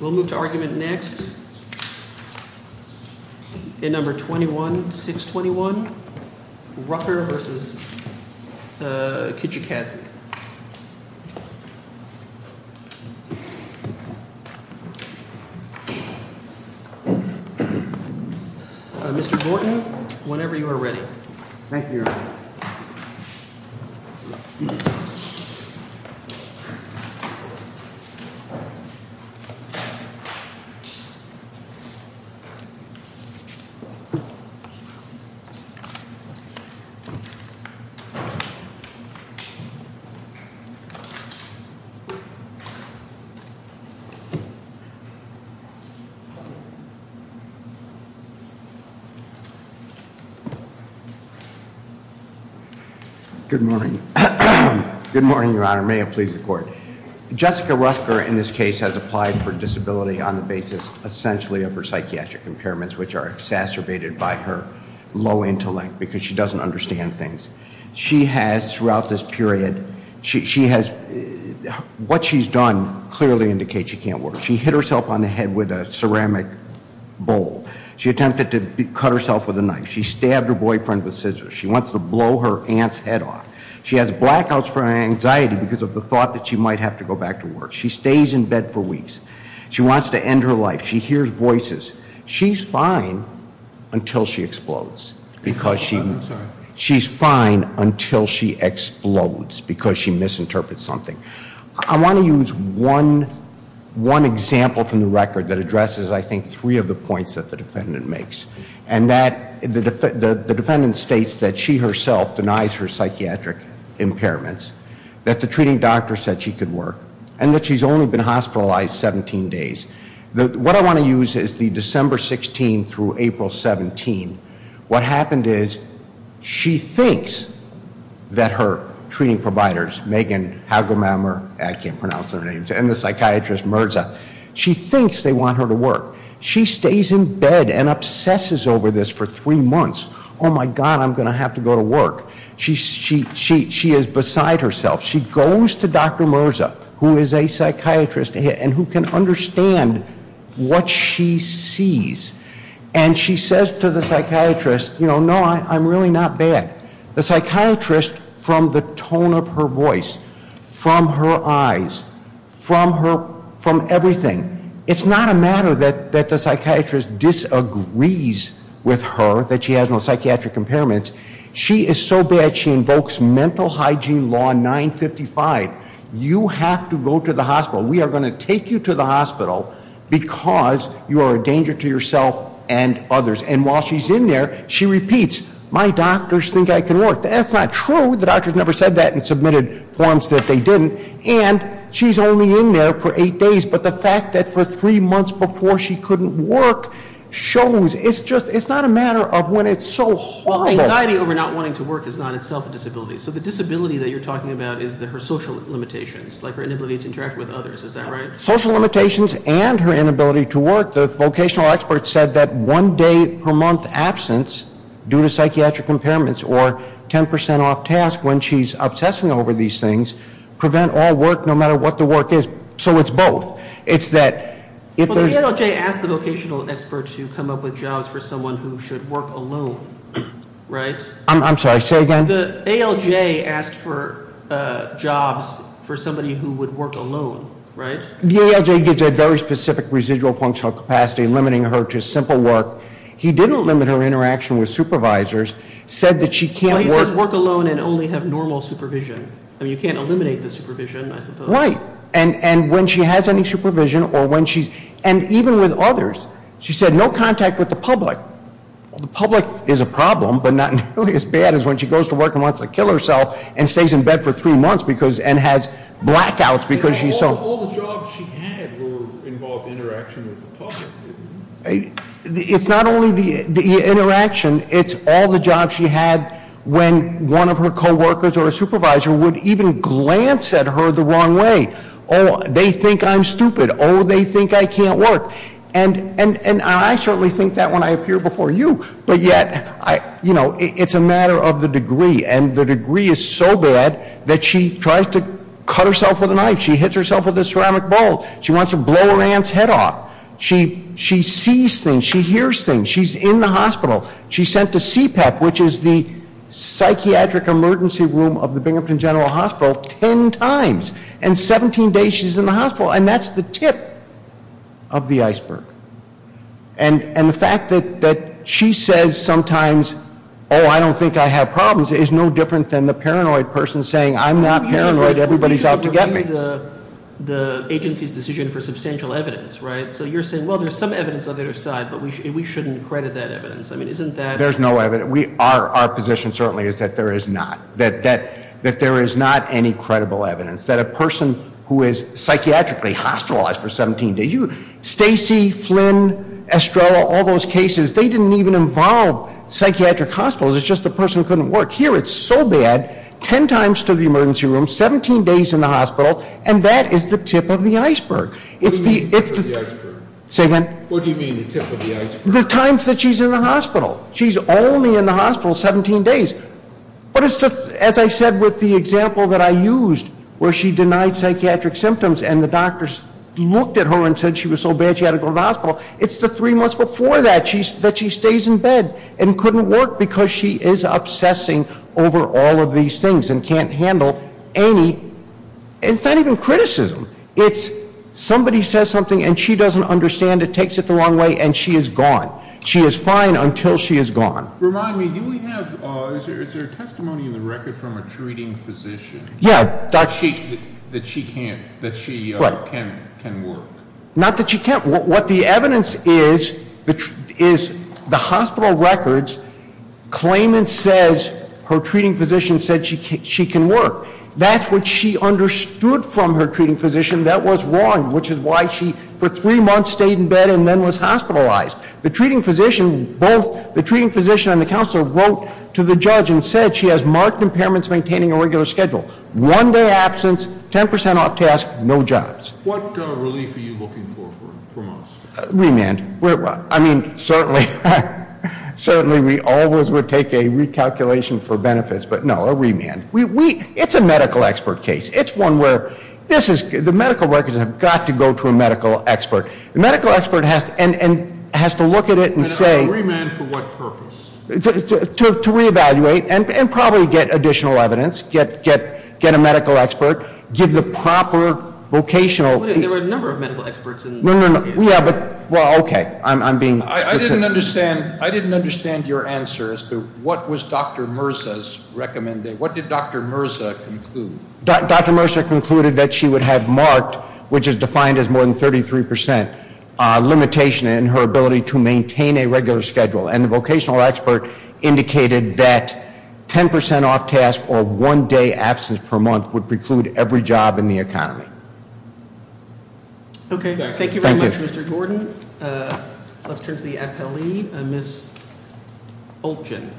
We'll move to argument next. Number 21 6 21 Rucker v. Kijakazi. Good morning. Good morning, Your Honor. May it please the court. Jessica Rucker, in this case, has applied for disability on the basis, essentially, of her psychiatric impairments, which are exacerbated by her low intellect because she doesn't understand things. She has, throughout this period, she has, what she's done clearly indicates she can't work. She hit herself on the head with a ceramic bowl. She attempted to cut herself with a knife. She stabbed her boyfriend with scissors. She wants to blow her aunt's head off. She has blackouts from anxiety because of the thought that she might have to go back to work. She stays in bed for weeks. She wants to end her life. She hears voices. She's fine until she explodes because she she's fine until she explodes because she misinterprets something. I want to use one example from the record that addresses, I think, three of the points that the defendant makes. And that the defendant states that she herself denies her psychiatric impairments, that the treating doctor said she could work, and that she's only been hospitalized 17 days. What I want to use is the December 16th through April 17th. What happened is she thinks that her treating providers, Megan Hagelmeier, I can't pronounce their names, and the psychiatrist Merza, she thinks they want her to work. She stays in bed and obsesses over this for three months. Oh, my God, I'm going to have to go to work. She is beside herself. She goes to Dr. Merza, who is a psychiatrist, and who can understand what she sees. And she says to the psychiatrist, you know, no, I'm really not bad. The psychiatrist, from the tone of her voice, from her eyes, from everything, it's not a matter that the psychiatrist disagrees with her that she has no psychiatric impairments. She is so bad, she invokes Mental Hygiene Law 955. You have to go to the hospital. We are going to take you to the hospital because you are a danger to yourself and others. And while she's in there, she repeats, my doctors think I can work. That's not true. The doctors never said that and submitted forms that they didn't. And she's only in there for eight days. But the fact that for three months before she couldn't work shows it's just, it's not a matter of when it's so horrible. Well, anxiety over not wanting to work is not itself a disability. So the disability that you're talking about is her social limitations, like her inability to interact with others. Is that right? Social limitations and her inability to work. The vocational expert said that one day per month absence due to psychiatric impairments or 10% off tasks when she's obsessing over these things prevent all work no matter what the work is. So it's both. Well, the ALJ asked the vocational expert to come up with jobs for someone who should work alone, right? I'm sorry, say again? The ALJ asked for jobs for somebody who would work alone, right? The ALJ gives a very specific residual functional capacity limiting her to simple work. He didn't limit her interaction with supervisors, said that she can't work. Well, he says work alone and only have normal supervision. I mean, you can't eliminate the supervision, I suppose. Right. And when she has any supervision or when she's, and even with others, she said no contact with the public. Well, the public is a problem, but not nearly as bad as when she goes to work and wants to kill herself and stays in bed for three months and has blackouts because she's so- All the jobs she had were involved in interaction with the public. It's not only the interaction, it's all the jobs she had when one of her coworkers or a supervisor would even glance at her the wrong way. They think I'm stupid. They think I can't work. And I certainly think that when I appear before you. But yet, it's a matter of the degree. And the degree is so bad that she tries to cut herself with a knife. She hits herself with a ceramic bowl. She wants to blow her aunt's head off. She sees things. She hears things. She's in the hospital. She's sent to CPAP, which is the psychiatric emergency room of the Binghamton General Hospital, ten times. And 17 days she's in the hospital. And that's the tip of the iceberg. And the fact that she says sometimes, oh, I don't think I have problems, is no different than the paranoid person saying, I'm not paranoid, everybody's out to get me. The agency's decision for substantial evidence, right? So you're saying, well, there's some evidence on the other side, but we shouldn't credit that evidence. I mean, isn't that- There's no evidence. Our position certainly is that there is not. That there is not any credible evidence. That a person who is psychiatrically hospitalized for 17 days. Stacy, Flynn, Estrella, all those cases, they didn't even involve psychiatric hospitals. It's just the person couldn't work. Here, it's so bad. Ten times to the emergency room, 17 days in the hospital, and that is the tip of the iceberg. It's the- What do you mean the tip of the iceberg? Say again? What do you mean the tip of the iceberg? The times that she's in the hospital. She's only in the hospital 17 days. But as I said with the example that I used, where she denied psychiatric symptoms and the doctors looked at her and said she was so bad she had to go to the hospital. It's the three months before that that she stays in bed and couldn't work because she is obsessing over all of these things and can't handle any- It's not even criticism. It's somebody says something and she doesn't understand. It takes it the wrong way and she is gone. She is fine until she is gone. Remind me, do we have- is there a testimony in the record from a treating physician? Yeah. That she can't- that she can work. Not that she can't. What the evidence is, is the hospital records claim and says her treating physician said she can work. That's what she understood from her treating physician that was wrong, which is why she, for three months, stayed in bed and then was hospitalized. The treating physician and the counselor wrote to the judge and said she has marked impairments maintaining a regular schedule. One day absence, 10% off task, no jobs. What relief are you looking for from us? Remand. I mean, certainly we always would take a recalculation for benefits, but no, a remand. It's a medical expert case. It's one where the medical records have got to go to a medical expert. The medical expert has to look at it and say- And a remand for what purpose? To reevaluate and probably get additional evidence. Get a medical expert. Give the proper vocational- There were a number of medical experts in the case. No, no, no. Yeah, but, well, okay. I'm being specific. I didn't understand your answer as to what was Dr. Mirza's recommendation. What did Dr. Mirza conclude? Dr. Mirza concluded that she would have marked, which is defined as more than 33%, limitation in her ability to maintain a regular schedule. And the vocational expert indicated that 10% off task or one day absence per month would preclude every job in the economy. Okay. Thank you very much, Mr. Gordon. Let's turn to the appellee, Ms. Olchen.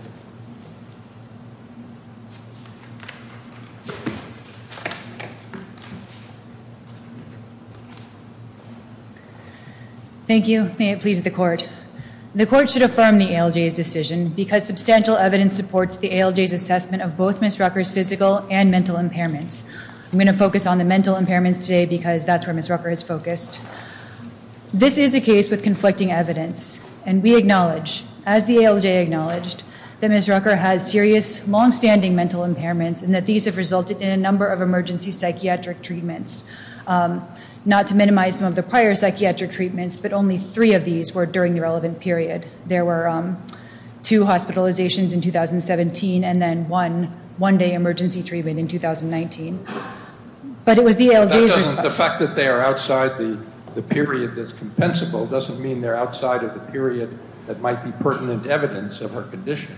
Thank you. May it please the court. The court should affirm the ALJ's decision because substantial evidence supports the ALJ's assessment of both Ms. Rucker's physical and mental impairments. I'm going to focus on the mental impairments today because that's where Ms. Rucker is focused. This is a case with conflicting evidence. And we acknowledge, as the ALJ acknowledged, that Ms. Rucker has serious longstanding mental impairments and that these have resulted in a number of emergency psychiatric treatments. Not to minimize some of the prior psychiatric treatments, but only three of these were during the relevant period. There were two hospitalizations in 2017 and then one one-day emergency treatment in 2019. But it was the ALJ's responsibility. The fact that they are outside the period that's compensable doesn't mean they're outside of the period that might be pertinent evidence of her condition.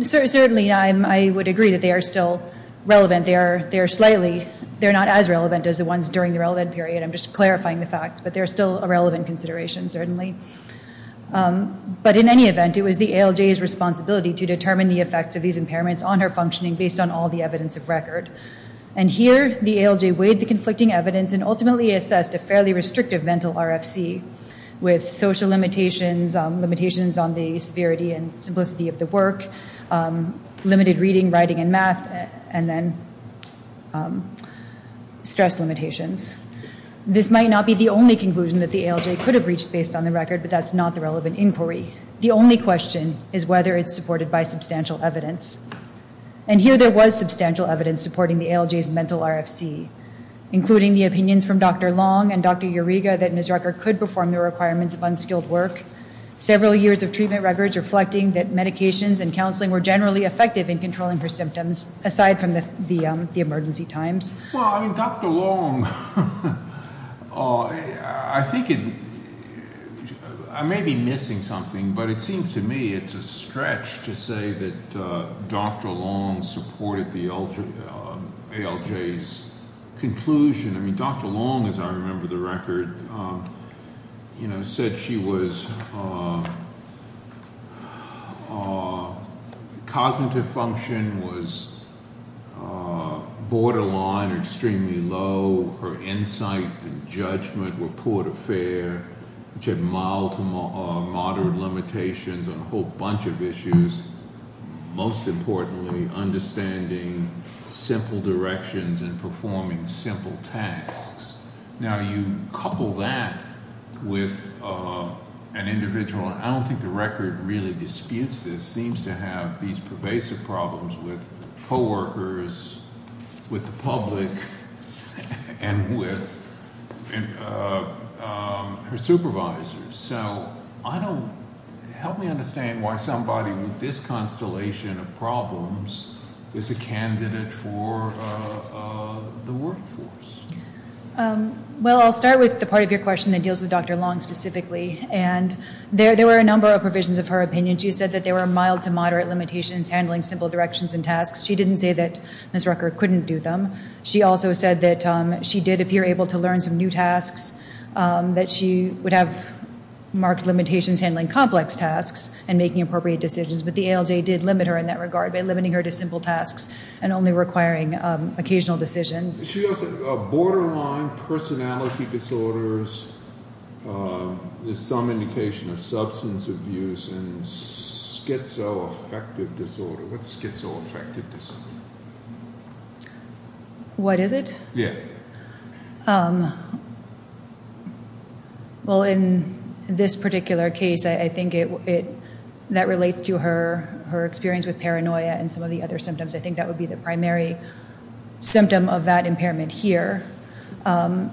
Certainly, I would agree that they are still relevant. They are slightly. They're not as relevant as the ones during the relevant period. I'm just clarifying the facts. But they're still a relevant consideration, certainly. But in any event, it was the ALJ's responsibility to determine the effects of these impairments on her functioning based on all the evidence of record. And here, the ALJ weighed the conflicting evidence and ultimately assessed a fairly restrictive mental RFC with social limitations, limitations on the severity and simplicity of the work, limited reading, writing, and math, and then stress limitations. This might not be the only conclusion that the ALJ could have reached based on the record, but that's not the relevant inquiry. The only question is whether it's supported by substantial evidence. And here, there was substantial evidence supporting the ALJ's mental RFC, including the opinions from Dr. Long and Dr. Uriga that Ms. Rucker could perform the requirements of unskilled work. Several years of treatment records reflecting that medications and counseling were generally effective in controlling her symptoms, aside from the emergency times. Well, I mean Dr. Long – I think it – I may be missing something, but it seems to me it's a stretch to say that Dr. Long supported the ALJ's conclusion. I mean Dr. Long, as I remember the record, said she was – cognitive function was borderline or extremely low. Her insight and judgment were poor to fair, which had mild to moderate limitations on a whole bunch of issues, most importantly understanding simple directions and performing simple tasks. Now, you couple that with an individual – and I don't think the record really disputes this – seems to have these pervasive problems with co-workers, with the public, and with her supervisors. So I don't – help me understand why somebody with this constellation of problems is a candidate for the workforce. Well, I'll start with the part of your question that deals with Dr. Long specifically. And there were a number of provisions of her opinion. She said that there were mild to moderate limitations handling simple directions and tasks. She didn't say that Ms. Rucker couldn't do them. She also said that she did appear able to learn some new tasks, that she would have marked limitations handling complex tasks and making appropriate decisions. But the ALJ did limit her in that regard by limiting her to simple tasks and only requiring occasional decisions. She also – borderline personality disorders, some indication of substance abuse, and schizoaffective disorder. What's schizoaffective disorder? What is it? Yeah. Well, in this particular case, I think it – that relates to her experience with paranoia and some of the other symptoms. I think that would be the primary symptom of that impairment here. But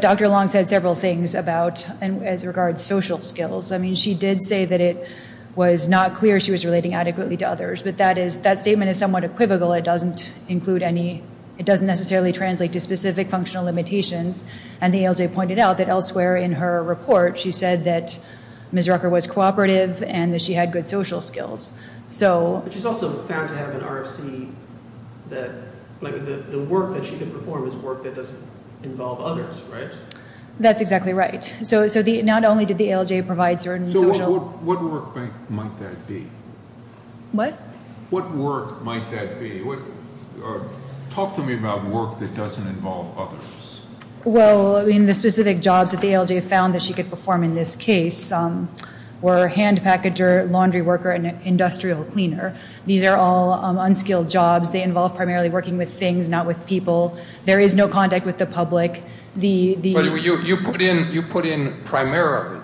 Dr. Long said several things about – as regards social skills. I mean, she did say that it was not clear she was relating adequately to others. But that statement is somewhat equivocal. It doesn't include any – it doesn't necessarily translate to specific functional limitations. And the ALJ pointed out that elsewhere in her report, she said that Ms. Rucker was cooperative and that she had good social skills. So – But she's also found to have an RFC that – like the work that she could perform is work that doesn't involve others, right? That's exactly right. So not only did the ALJ provide certain social – So what work might that be? What? What work might that be? Talk to me about work that doesn't involve others. Well, I mean, the specific jobs that the ALJ found that she could perform in this case were hand packager, laundry worker, and industrial cleaner. These are all unskilled jobs. They involve primarily working with things, not with people. There is no contact with the public. But you put in primarily.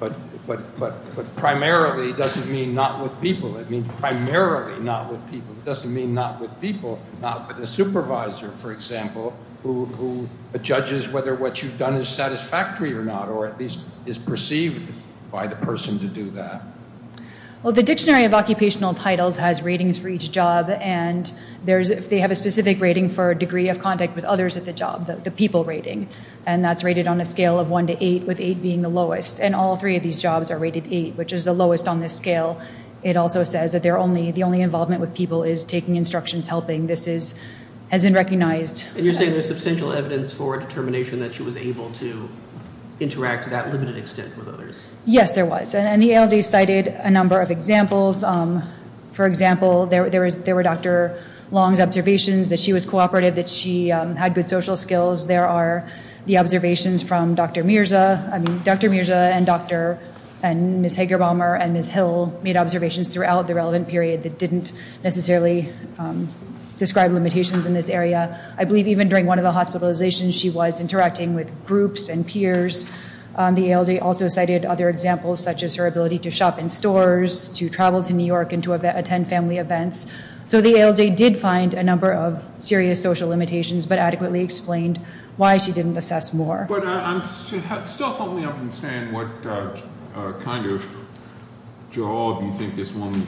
But primarily doesn't mean not with people. It means primarily not with people. It doesn't mean not with people, not with a supervisor, for example, who judges whether what you've done is satisfactory or not or at least is perceived by the person to do that. Well, the Dictionary of Occupational Titles has ratings for each job. And they have a specific rating for degree of contact with others at the job, the people rating. And that's rated on a scale of 1 to 8, with 8 being the lowest. And all three of these jobs are rated 8, which is the lowest on this scale. It also says that the only involvement with people is taking instructions, helping. This has been recognized. And you're saying there's substantial evidence for a determination that she was able to interact to that limited extent with others? Yes, there was. And the ALJ cited a number of examples. For example, there were Dr. Long's observations that she was cooperative, that she had good social skills. There are the observations from Dr. Mirza. I mean, Dr. Mirza and Dr. and Ms. Hagerbommer and Ms. Hill made observations throughout the relevant period that didn't necessarily describe limitations in this area. I believe even during one of the hospitalizations, she was interacting with groups and peers. The ALJ also cited other examples, such as her ability to shop in stores, to travel to New York, and to attend family events. So the ALJ did find a number of serious social limitations, but adequately explained why she didn't assess more. But still help me understand what kind of job you think this woman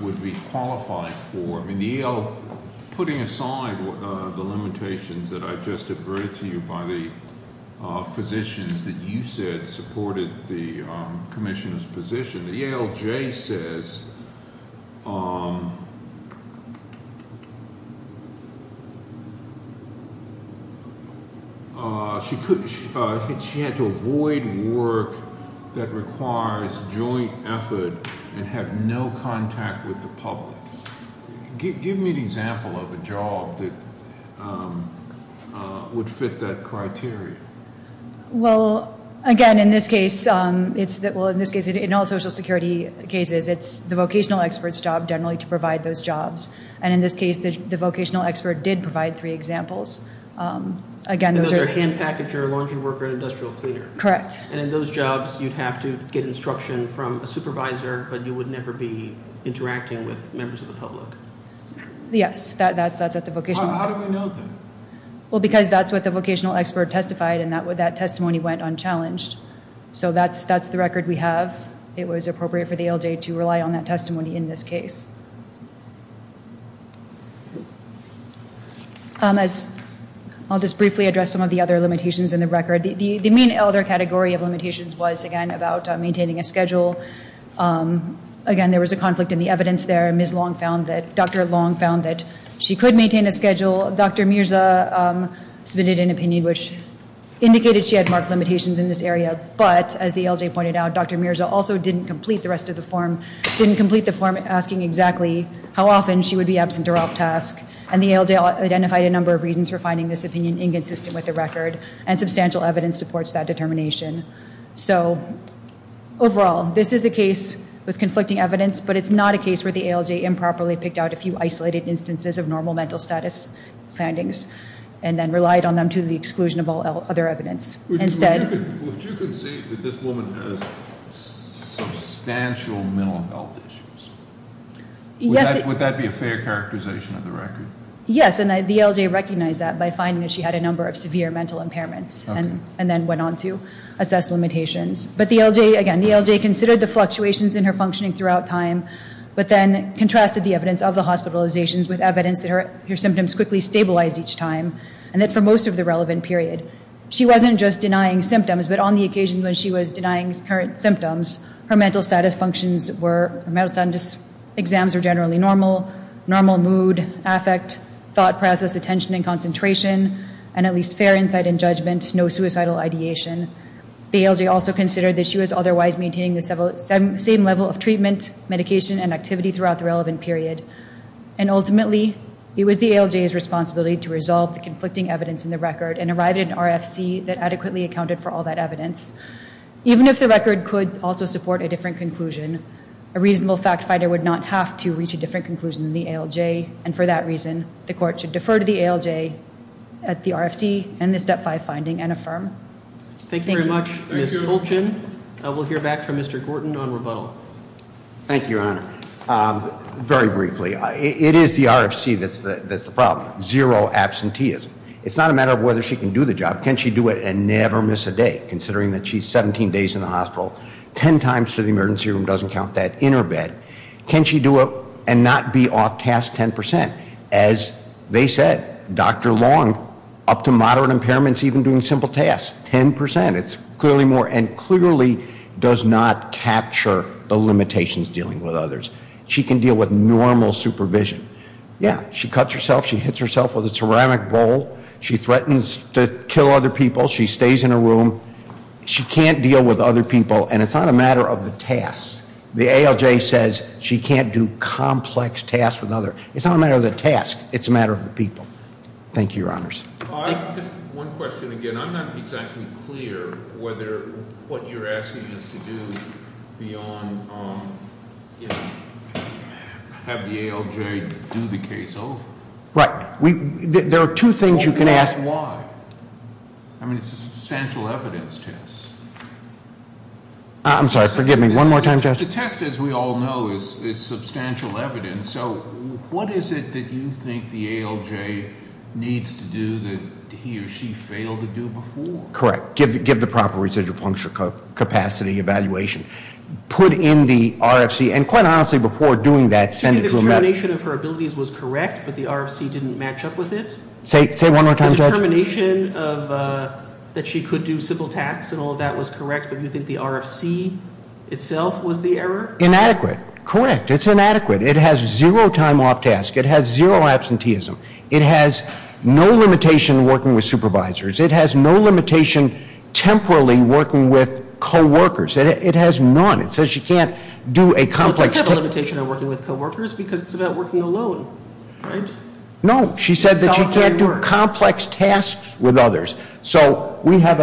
would be qualified for. Putting aside the limitations that I just adverted to you by the physicians that you said supported the commissioner's position, the ALJ says she had to avoid work that requires joint effort and have no contact with the public. Give me an example of a job that would fit that criteria. Well, again, in this case, in all social security cases, it's the vocational expert's job generally to provide those jobs. And in this case, the vocational expert did provide three examples. Again, those are- Those are hand packager, laundry worker, and industrial cleaner. Correct. And in those jobs, you'd have to get instruction from a supervisor, but you would never be interacting with members of the public. Yes, that's at the vocational- How do we know that? Well, because that's what the vocational expert testified, and that testimony went unchallenged. So that's the record we have. It was appropriate for the ALJ to rely on that testimony in this case. I'll just briefly address some of the other limitations in the record. The main elder category of limitations was, again, about maintaining a schedule. Again, there was a conflict in the evidence there. Ms. Long found that- Dr. Long found that she could maintain a schedule. Dr. Mirza submitted an opinion which indicated she had marked limitations in this area, but, as the ALJ pointed out, Dr. Mirza also didn't complete the rest of the form, didn't complete the form asking exactly how often she would be absent or off task. And the ALJ identified a number of reasons for finding this opinion inconsistent with the record, and substantial evidence supports that determination. So, overall, this is a case with conflicting evidence, but it's not a case where the ALJ improperly picked out a few isolated instances of normal mental status findings, and then relied on them to the exclusion of all other evidence. Would you concede that this woman has substantial mental health issues? Would that be a fair characterization of the record? Yes, and the ALJ recognized that by finding that she had a number of severe mental impairments, and then went on to assess limitations. But the ALJ, again, the ALJ considered the fluctuations in her functioning throughout time, but then contrasted the evidence of the hospitalizations with evidence that her symptoms quickly stabilized each time, and that for most of the relevant period. She wasn't just denying symptoms, but on the occasion when she was denying current symptoms, her mental status functions were, her mental status exams were generally normal, normal mood, affect, thought process, attention, and concentration, and at least fair insight and judgment, no suicidal ideation. The ALJ also considered that she was otherwise maintaining the same level of treatment, medication, and activity throughout the relevant period. And ultimately, it was the ALJ's responsibility to resolve the conflicting evidence in the record, and arrive at an RFC that adequately accounted for all that evidence. Even if the record could also support a different conclusion, a reasonable fact finder would not have to reach a different conclusion than the ALJ, and for that reason, the court should defer to the ALJ at the RFC, and the Step 5 finding, and affirm. Thank you very much. Ms. Holchen, we'll hear back from Mr. Gorton on rebuttal. Thank you, Your Honor. Very briefly, it is the RFC that's the problem. Zero absenteeism. It's not a matter of whether she can do the job. Can she do it and never miss a day, considering that she's 17 days in the hospital, 10 times to the emergency room, doesn't count that, in her bed? Can she do it and not be off task 10%? As they said, Dr. Long, up to moderate impairments, even doing simple tasks, 10%. It's clearly more, and clearly does not capture the limitations dealing with others. She can deal with normal supervision. Yeah, she cuts herself, she hits herself with a ceramic bowl, she threatens to kill other people, she stays in her room. She can't deal with other people, and it's not a matter of the tasks. The ALJ says she can't do complex tasks with others. It's not a matter of the tasks. It's a matter of the people. Thank you, Your Honors. Just one question again. I'm not exactly clear whether what you're asking us to do beyond have the ALJ do the case over. Right. There are two things you can ask. Why? I mean, it's a substantial evidence test. I'm sorry, forgive me. One more time, Judge. The test, as we all know, is substantial evidence. And so what is it that you think the ALJ needs to do that he or she failed to do before? Correct. Give the proper residual function capacity evaluation. Put in the RFC, and quite honestly, before doing that, send it to- You think the determination of her abilities was correct, but the RFC didn't match up with it? Say it one more time, Judge. The determination that she could do simple tasks and all of that was correct, but you think the RFC itself was the error? Inadequate. Correct. It's inadequate. It has zero time off tasks. It has zero absenteeism. It has no limitation working with supervisors. It has no limitation temporarily working with coworkers. It has none. It says she can't do a complex- Does it have a limitation on working with coworkers because it's about working alone, right? No. She said that she can't do complex tasks with others. So I have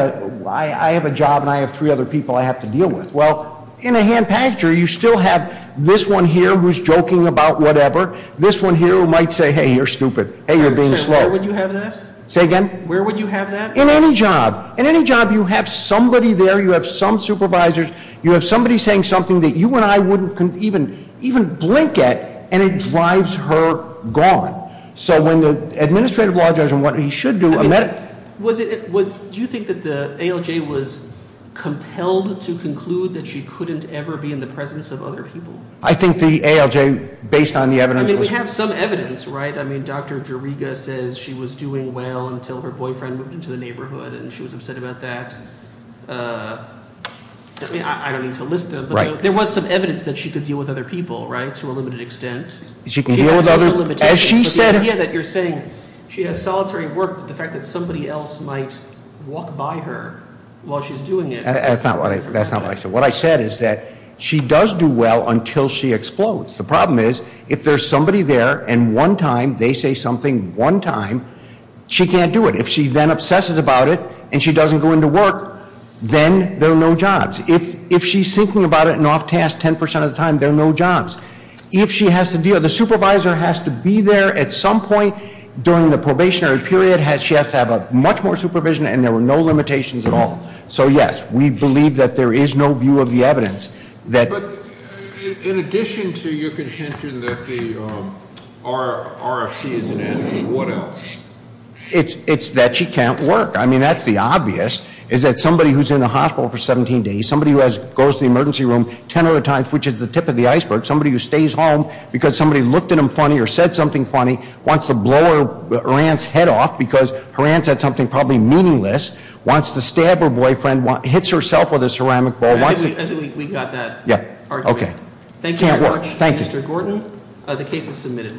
a job and I have three other people I have to deal with. Well, in a hand-packed jury, you still have this one here who's joking about whatever. This one here who might say, hey, you're stupid. Hey, you're being slow. Where would you have that? Say again? Where would you have that? In any job. In any job, you have somebody there. You have some supervisors. You have somebody saying something that you and I wouldn't even blink at, and it drives her gone. So when the administrative law judge and what he should do- Do you think that the ALJ was compelled to conclude that she couldn't ever be in the presence of other people? I think the ALJ, based on the evidence- I mean, we have some evidence, right? I mean, Dr. Joriga says she was doing well until her boyfriend moved into the neighborhood, and she was upset about that. I don't need to list them, but there was some evidence that she could deal with other people, right, to a limited extent. She can deal with other- Somebody else might walk by her while she's doing it. That's not what I said. What I said is that she does do well until she explodes. The problem is if there's somebody there and one time they say something one time, she can't do it. If she then obsesses about it and she doesn't go into work, then there are no jobs. If she's thinking about it and off task 10% of the time, there are no jobs. If she has to deal, the supervisor has to be there at some point during the probationary period. She has to have much more supervision, and there were no limitations at all. So, yes, we believe that there is no view of the evidence that- But in addition to your contention that the RFC is an enemy, what else? It's that she can't work. I mean, that's the obvious, is that somebody who's in the hospital for 17 days, somebody who goes to the emergency room 10 other times, which is the tip of the iceberg, somebody who stays home because somebody looked at them funny or said something funny, wants to blow her aunt's head off because her aunt said something probably meaningless, wants to stab her boyfriend, hits herself with a ceramic ball- I think we got that argument. Okay. Thank you very much, Mr. Gordon. The case is submitted.